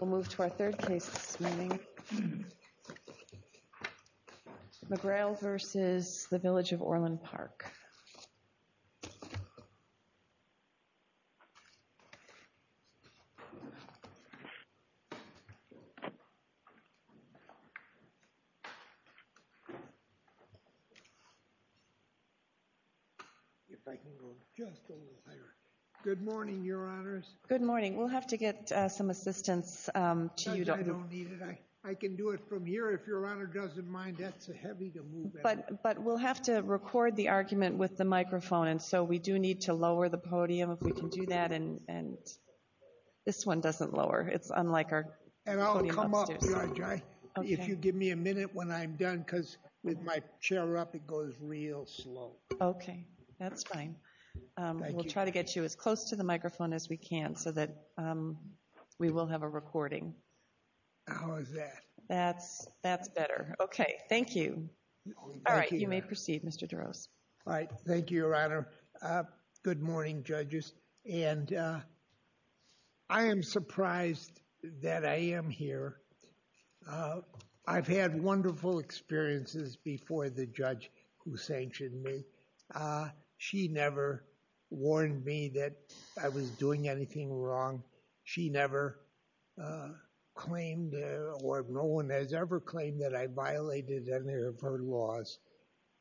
We'll move to our third case this morning, McGreal v. Village of Orland Park Good morning, Your Honors. Good morning. We'll have to get some assistance to you. I don't need it. I can do it from here if Your Honor doesn't mind. That's heavy to move. But we'll have to record the argument with the microphone, and so we do need to lower the podium if we can do that. And this one doesn't lower. It's unlike our podium upstairs. And I'll come up, Your Honor. If you give me a minute when I'm done, because with my chair up, it goes real slow. Okay. That's fine. We'll try to get you as close to the microphone as we can so that we will have a recording. How is that? That's better. Okay. Thank you. All right. You may proceed, Mr. Duros. All right. Thank you, Your Honor. Good morning, judges. And I am surprised that I am here. I've had wonderful experiences before the judge who sanctioned me. She never warned me that I was doing anything wrong. She never claimed or no one has ever claimed that I violated any of her laws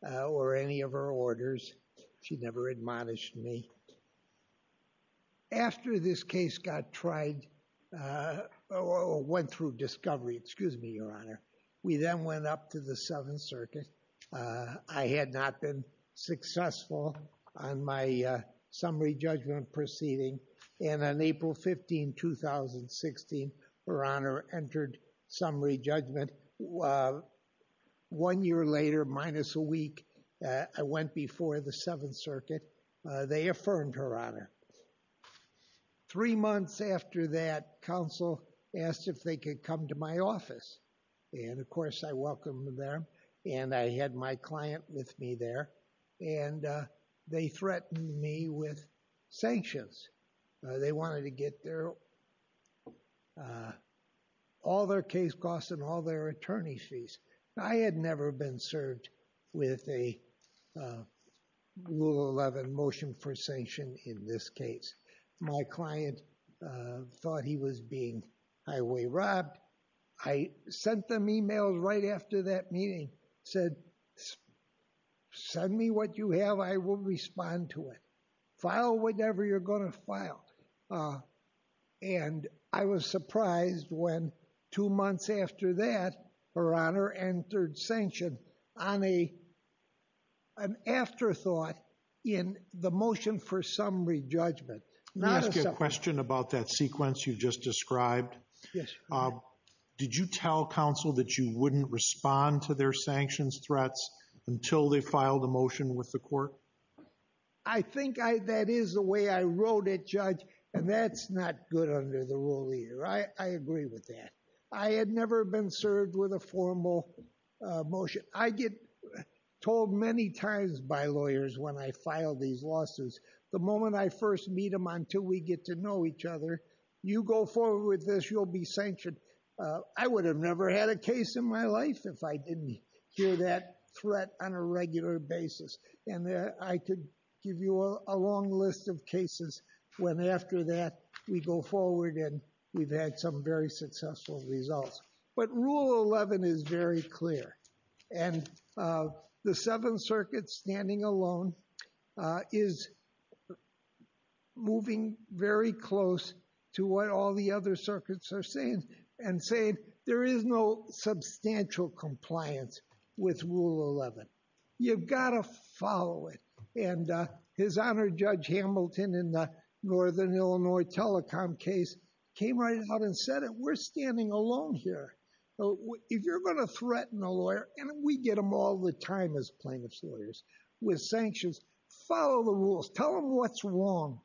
or any of her orders. She never admonished me. After this case got tried or went through discovery, excuse me, Your Honor, we then went up to the Seventh Circuit. I had not been successful on my summary judgment proceeding. And on April 15, 2016, Her Honor entered summary judgment. One year later, minus a week, I went before the Seventh Circuit. They affirmed Her Honor. Three months after that, counsel asked if they could come to my office. And, of course, I welcomed them. And I had my client with me there. And they threatened me with sanctions. They wanted to get all their case costs and all their attorney fees. I had never been served with a Rule 11 motion for sanction in this case. My client thought he was being highway robbed. I sent them e-mails right after that meeting, said, send me what you have. I will respond to it. File whatever you're going to file. And I was surprised when two months after that, Her Honor entered sanction on an afterthought in the motion for summary judgment. Let me ask you a question about that sequence you just described. Did you tell counsel that you wouldn't respond to their sanctions threats until they filed a motion with the court? I think that is the way I wrote it, Judge. And that's not good under the rule either. I agree with that. I had never been served with a formal motion. I get told many times by lawyers when I file these lawsuits, the moment I first meet them until we get to know each other, you go forward with this, you'll be sanctioned. I would have never had a case in my life if I didn't hear that threat on a regular basis. And I could give you a long list of cases when after that we go forward and we've had some very successful results. But Rule 11 is very clear. And the Seventh Circuit standing alone is moving very close to what all the other circuits are saying and saying there is no substantial compliance with Rule 11. You've got to follow it. And His Honor Judge Hamilton in the Northern Illinois telecom case came right out and said, we're standing alone here. If you're going to threaten a lawyer, and we get them all the time as plaintiff's lawyers with sanctions, follow the rules. Tell them what's wrong.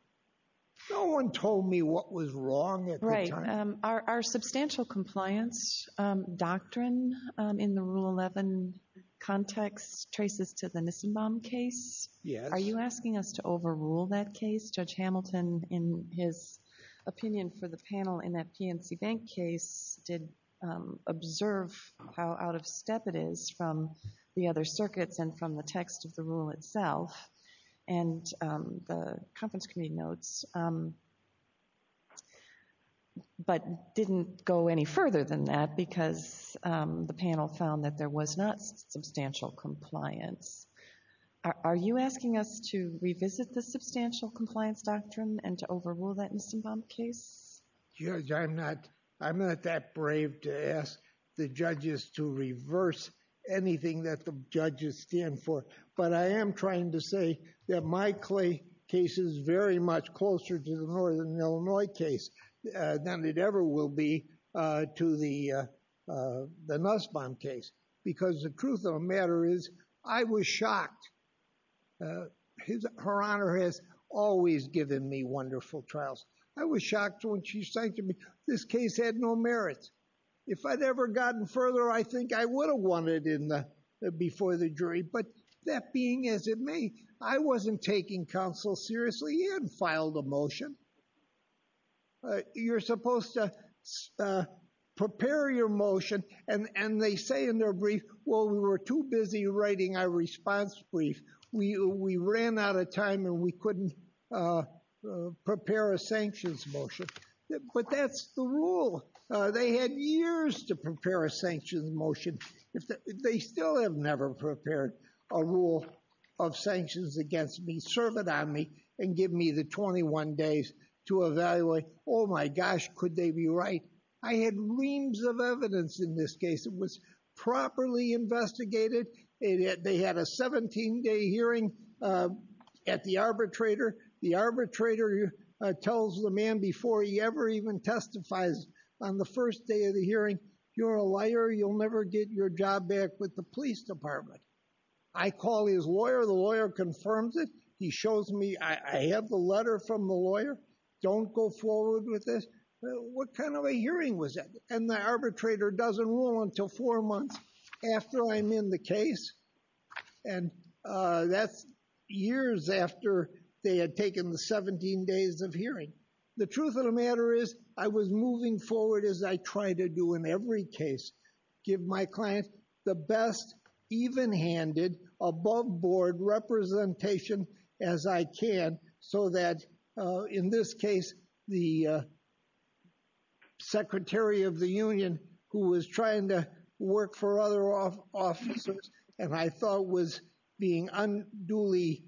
No one told me what was wrong at the time. Right. Our substantial compliance doctrine in the Rule 11 context traces to the Nissenbaum case. Yes. Are you asking us to overrule that case? Judge Hamilton, in his opinion for the panel in that PNC Bank case, did observe how out of step it is from the other circuits and from the text of the rule itself. And the conference committee notes, but didn't go any further than that because the panel found that there was not substantial compliance. Are you asking us to revisit the substantial compliance doctrine and to overrule that Nissenbaum case? Judge, I'm not that brave to ask the judges to reverse anything that the judges stand for. But I am trying to say that my case is very much closer to the Northern Illinois case than it ever will be to the Nussbaum case. Because the truth of the matter is, I was shocked. Her Honor has always given me wonderful trials. I was shocked when she said to me, this case had no merits. If I'd ever gotten further, I think I would have won it before the jury. But that being as it may, I wasn't taking counsel seriously. He hadn't filed a motion. You're supposed to prepare your motion. And they say in their brief, well, we were too busy writing our response brief. We ran out of time and we couldn't prepare a sanctions motion. But that's the rule. They had years to prepare a sanctions motion. They still have never prepared a rule of sanctions against me. Serve it on me and give me the 21 days to evaluate. Oh, my gosh, could they be right? I had reams of evidence in this case. It was properly investigated. They had a 17-day hearing at the arbitrator. The arbitrator tells the man before he ever even testifies on the first day of the hearing, you're a liar. You'll never get your job back with the police department. I call his lawyer. The lawyer confirms it. He shows me I have the letter from the lawyer. Don't go forward with this. What kind of a hearing was that? And the arbitrator doesn't rule until four months after I'm in the case. And that's years after they had taken the 17 days of hearing. The truth of the matter is, I was moving forward as I try to do in every case. Give my client the best even-handed, above-board representation as I can so that, in this case, the Secretary of the Union, who was trying to work for other officers, and I thought was being unduly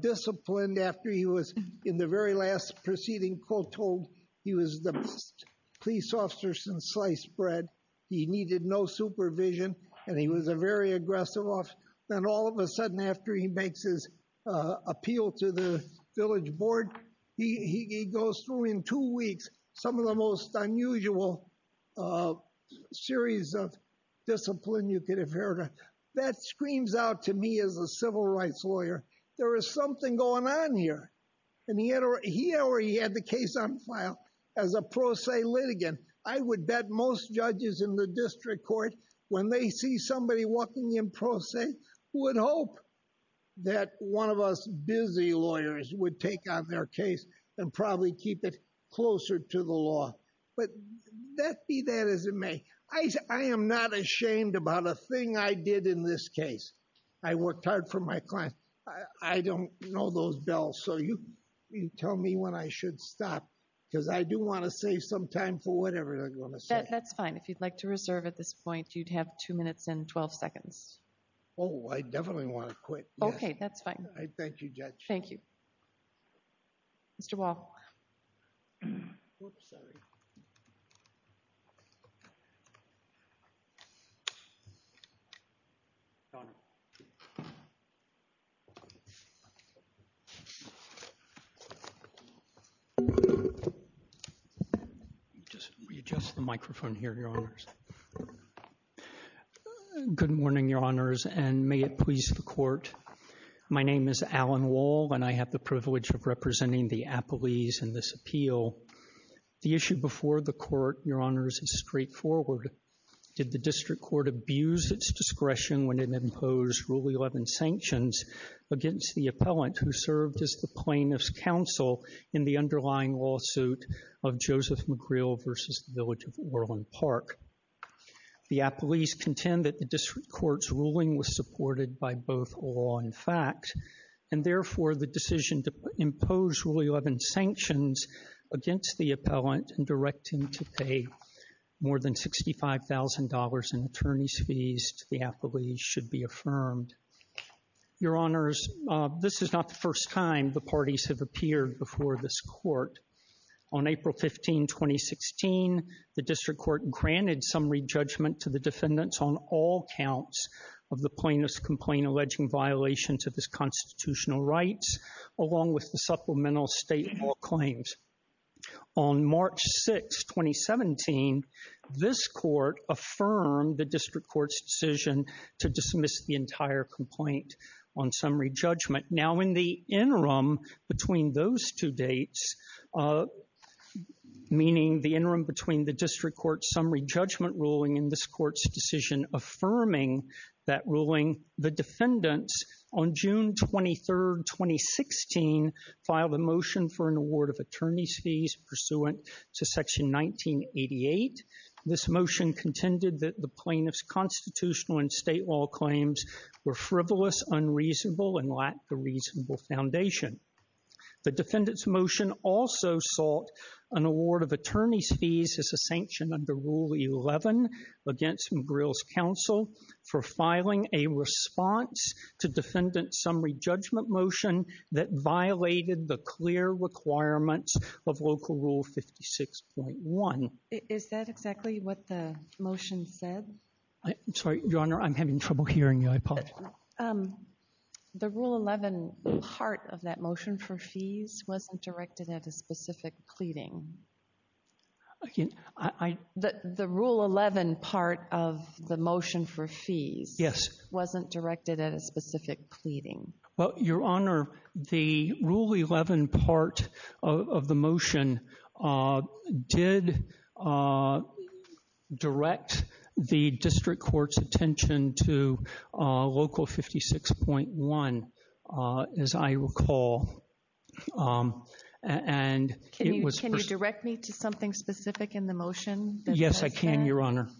disciplined after he was, in the very last proceeding, told he was the best police officer since sliced bread. He needed no supervision, and he was a very aggressive officer. Then all of a sudden, after he makes his appeal to the village board, he goes through in two weeks some of the most unusual series of discipline you could have heard of. That screams out to me as a civil rights lawyer. There is something going on here. And he had already had the case on file as a pro se litigant. I would bet most judges in the district court, when they see somebody walking in pro se, would hope that one of us busy lawyers would take on their case and probably keep it closer to the law. But that be that as it may, I am not ashamed about a thing I did in this case. I worked hard for my client. I don't know those bills, so you tell me when I should stop, because I do want to save some time for whatever they're going to say. That's fine. If you'd like to reserve at this point, you'd have two minutes and 12 seconds. Oh, I definitely want to quit. Okay, that's fine. Thank you, Judge. Thank you. Mr. Wall. Whoops, sorry. Just readjust the microphone here, Your Honors. Good morning, Your Honors, and may it please the court. My name is Alan Wall, and I have the privilege of representing the appellees in this appeal. The issue before the court, Your Honors, is straightforward. Did the district court abuse its discretion when it imposed Rule 11 sanctions against the appellant who served as the plaintiff's counsel in the underlying lawsuit of Joseph McGreal v. The Village of Orland Park? The appellees contend that the district court's ruling was supported by both law and fact, and therefore the decision to impose Rule 11 sanctions against the appellant and direct him to pay more than $65,000 in attorney's fees to the appellees should be affirmed. Your Honors, this is not the first time the parties have appeared before this court. On April 15, 2016, the district court granted summary judgment to the defendants on all counts of the plaintiff's complaint alleging violation to his constitutional rights along with the supplemental state law claims. On March 6, 2017, this court affirmed the district court's decision to dismiss the entire complaint on summary judgment. Now in the interim between those two dates, meaning the interim between the district court's summary judgment ruling and this court's decision affirming that ruling, the defendants on June 23, 2016, filed a motion for an award of attorney's fees pursuant to Section 1988. This motion contended that the plaintiff's constitutional and state law claims were frivolous, unreasonable, and lacked the reasonable foundation. The defendant's motion also sought an award of attorney's fees as a sanction under Rule 11 against McGrill's counsel for filing a response to defendant's summary judgment motion that violated the clear requirements of Local Rule 56.1. Is that exactly what the motion said? I'm sorry, Your Honor, I'm having trouble hearing you, I apologize. The Rule 11 part of that motion for fees wasn't directed at a specific pleading. The Rule 11 part of the motion for fees wasn't directed at a specific pleading. Well, Your Honor, the Rule 11 part of the motion did direct the district court's attention to Local 56.1, as I recall. Can you direct me to something specific in the motion? Yes, I can, Your Honor.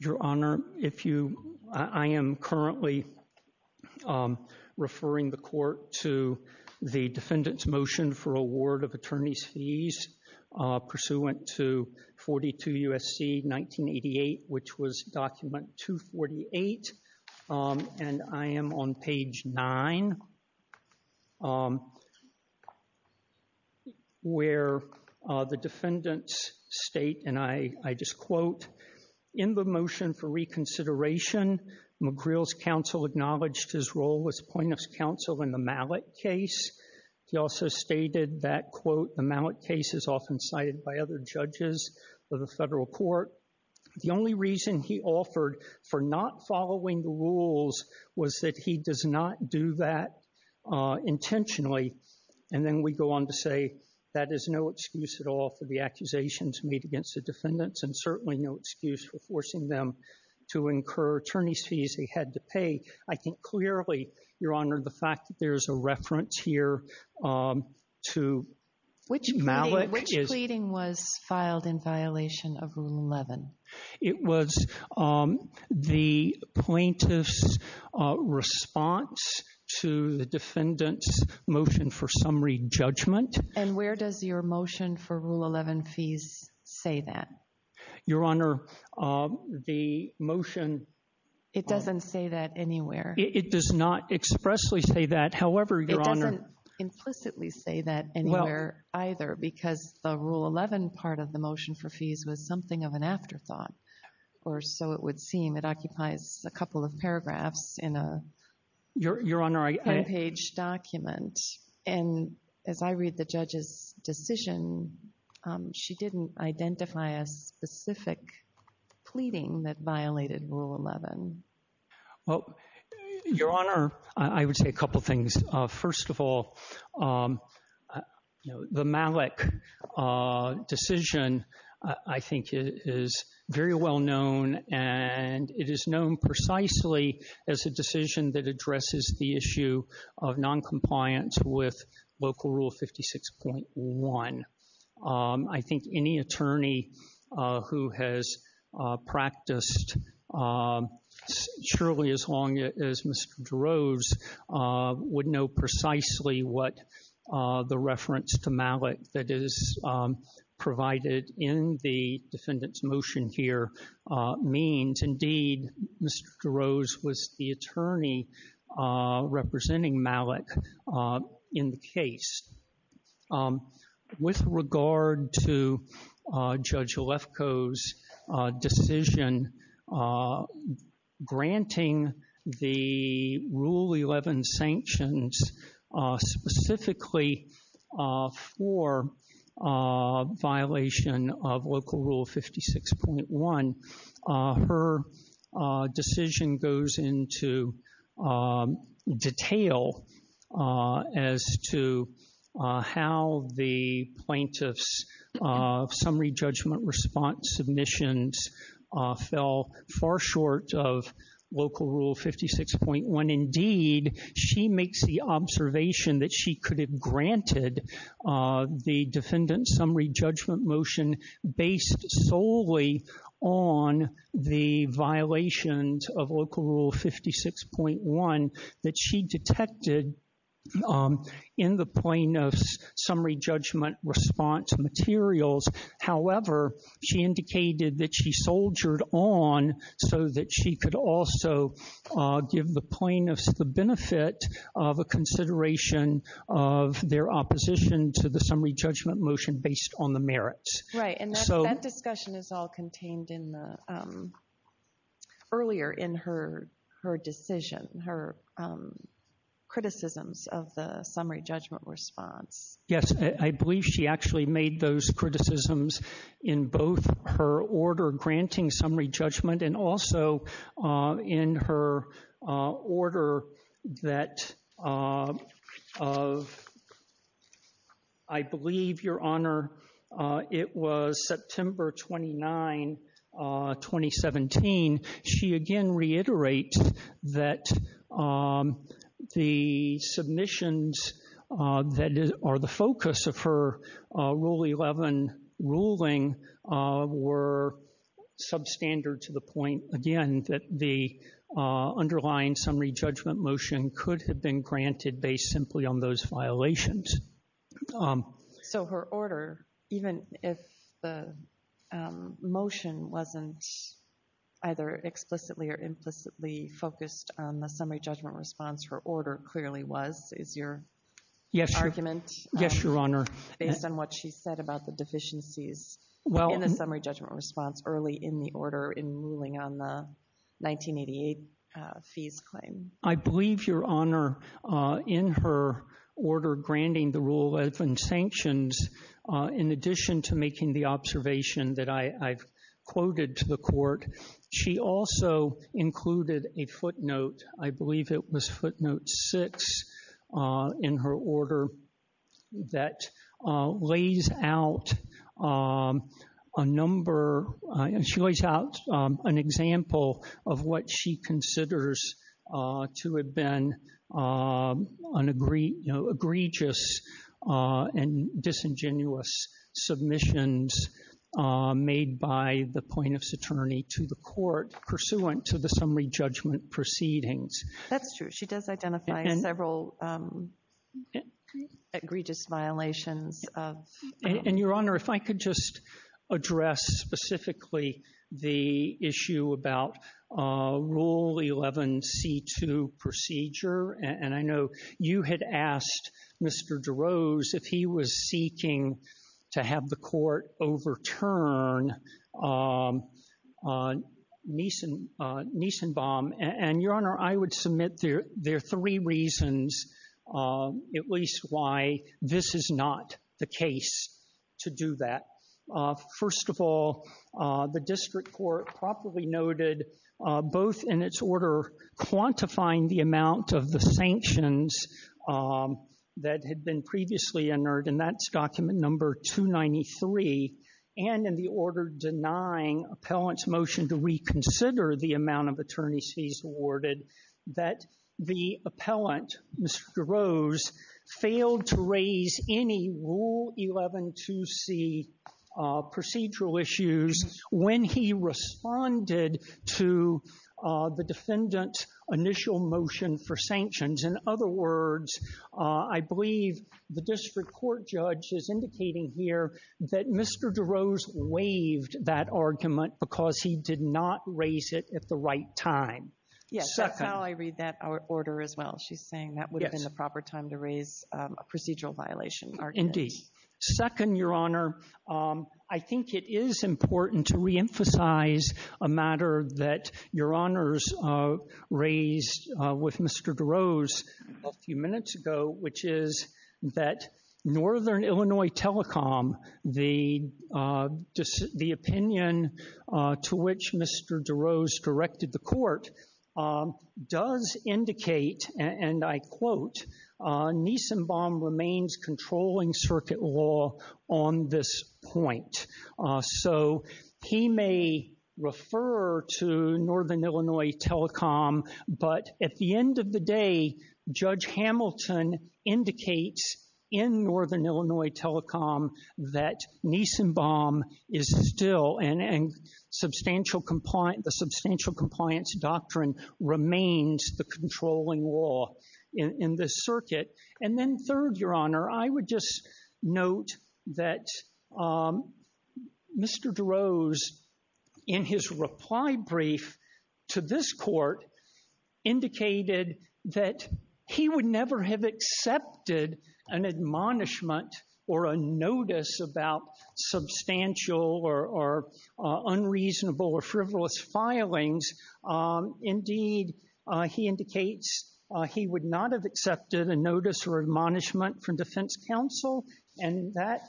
Your Honor, I am currently referring the court to the defendant's motion for award of attorney's fees pursuant to 42 U.S.C. 1988, which was document 248, and I am on page 9 where the defendants state, and I just quote, in the motion for reconsideration, McGrill's counsel acknowledged his role as plaintiff's counsel in the Mallett case. He also stated that, quote, the Mallett case is often cited by other judges of the federal court. The only reason he offered for not following the rules was that he does not do that intentionally, and then we go on to say that is no excuse at all for the accusations made against the defendants and certainly no excuse for forcing them to incur attorney's fees they had to pay. I think clearly, Your Honor, the fact that there is a reference here to Mallett. Which pleading was filed in violation of Rule 11? It was the plaintiff's response to the defendant's motion for summary judgment. And where does your motion for Rule 11 fees say that? Your Honor, the motion— It doesn't say that anywhere. It does not expressly say that. However, Your Honor— It doesn't implicitly say that anywhere either because the Rule 11 part of the motion for fees was something of an afterthought, or so it would seem. It occupies a couple of paragraphs in a— Your Honor, I— specific pleading that violated Rule 11. Well, Your Honor, I would say a couple things. First of all, the Mallett decision, I think, is very well known, and it is known precisely as a decision that addresses the issue of noncompliance with Local Rule 56.1. I think any attorney who has practiced surely as long as Mr. DeRose would know precisely what the reference to Mallett that is provided in the defendant's motion here means. Indeed, Mr. DeRose was the attorney representing Mallett in the case. With regard to Judge Alefko's decision granting the Rule 11 sanctions specifically for violation of Local Rule 56.1, her decision goes into detail as to how the plaintiff's summary judgment response submissions fell far short of Local Rule 56.1. Indeed, she makes the observation that she could have granted the defendant's summary judgment motion based solely on the violations of Local Rule 56.1 that she detected in the plaintiff's summary judgment response materials. However, she indicated that she soldiered on so that she could also give the plaintiffs the benefit of a consideration of their opposition to the summary judgment motion based on the merits. Right, and that discussion is all contained earlier in her decision, her criticisms of the summary judgment response. Yes, I believe she actually made those criticisms in both her order granting summary judgment and also in her order that I believe, Your Honor, it was September 29, 2017. She again reiterates that the submissions that are the focus of her Rule 11 ruling were substandard to the point, again, that the underlying summary judgment motion could have been granted based simply on those violations. So her order, even if the motion wasn't either explicitly or implicitly focused on the summary judgment response, her order clearly was, is your argument? Yes, Your Honor. Based on what she said about the deficiencies in the summary judgment response early in the order in ruling on the 1988 fees claim. I believe, Your Honor, in her order granting the Rule 11 sanctions, in addition to making the observation that I've quoted to the court, she also included a footnote. I believe it was footnote six in her order that lays out a number, and she lays out an example of what she considers to have been an egregious and disingenuous submissions made by the plaintiff's attorney to the court pursuant to the summary judgment proceedings. That's true. She does identify several egregious violations. And, Your Honor, if I could just address specifically the issue about Rule 11c2 procedure. And I know you had asked Mr. DeRose if he was seeking to have the court overturn Niesenbaum. And, Your Honor, I would submit there are three reasons, at least, why this is not the case to do that. First of all, the district court properly noted both in its order quantifying the amount of the sanctions that had been previously entered, and that's document number 293, and in the order denying appellant's motion to reconsider the amount of attorneys he's awarded, that the appellant, Mr. DeRose, failed to raise any Rule 112c procedural issues when he responded to the defendant's initial motion for sanctions. In other words, I believe the district court judge is indicating here that Mr. DeRose waived that argument because he did not raise it at the right time. Yes, that's how I read that order as well. She's saying that would have been the proper time to raise a procedural violation argument. Indeed. Second, Your Honor, I think it is important to reemphasize a matter that Your Honors raised with Mr. DeRose a few minutes ago, which is that Northern Illinois Telecom, the opinion to which Mr. DeRose directed the court, does indicate, and I quote, Nissenbaum remains controlling circuit law on this point. So he may refer to Northern Illinois Telecom, but at the end of the day, Judge Hamilton indicates in Northern Illinois Telecom that Nissenbaum is still, and the substantial compliance doctrine remains the controlling law in this circuit. And then third, Your Honor, I would just note that Mr. DeRose, in his reply brief to this court, indicated that he would never have accepted an admonishment or a notice about substantial or unreasonable or frivolous filings. Indeed, he indicates he would not have accepted a notice or admonishment from defense counsel, and that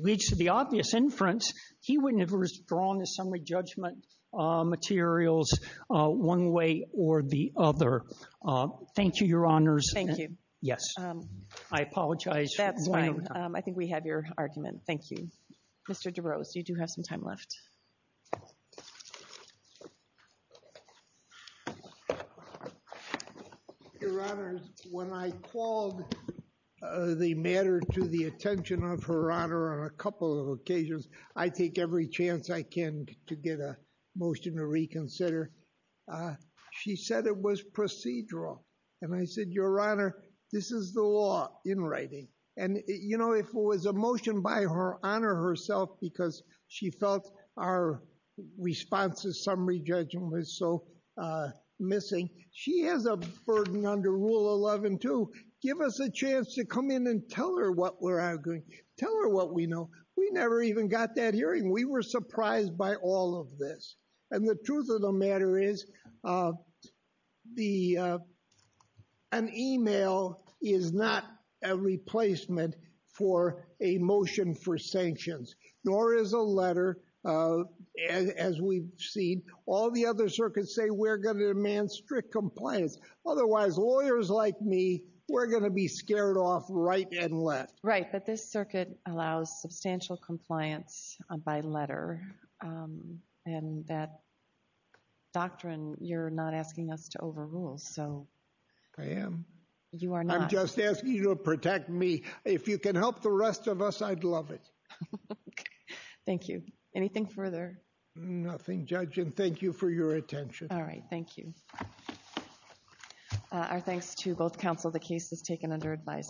leads to the obvious inference. He wouldn't have withdrawn the summary judgment materials one way or the other. Thank you, Your Honors. Thank you. Yes. I apologize. That's fine. I think we have your argument. Thank you. Mr. DeRose, you do have some time left. Your Honors, when I called the matter to the attention of Her Honor on a couple of occasions, I take every chance I can to get a motion to reconsider. She said it was procedural, and I said, Your Honor, this is the law in writing. And, you know, if it was a motion by Her Honor herself because she felt our response to summary judgment was so missing, she has a burden under Rule 11 too. Give us a chance to come in and tell her what we're arguing. Tell her what we know. We never even got that hearing. We were surprised by all of this. And the truth of the matter is an email is not a replacement for a motion for sanctions, nor is a letter, as we've seen. All the other circuits say we're going to demand strict compliance. Otherwise, lawyers like me, we're going to be scared off right and left. Right. But this circuit allows substantial compliance by letter. And that doctrine, you're not asking us to overrule. I am. You are not. I'm just asking you to protect me. If you can help the rest of us, I'd love it. Thank you. Anything further? Nothing, Judge. And thank you for your attention. All right. Thank you. Our thanks to both counsel. The case is taken under advisory.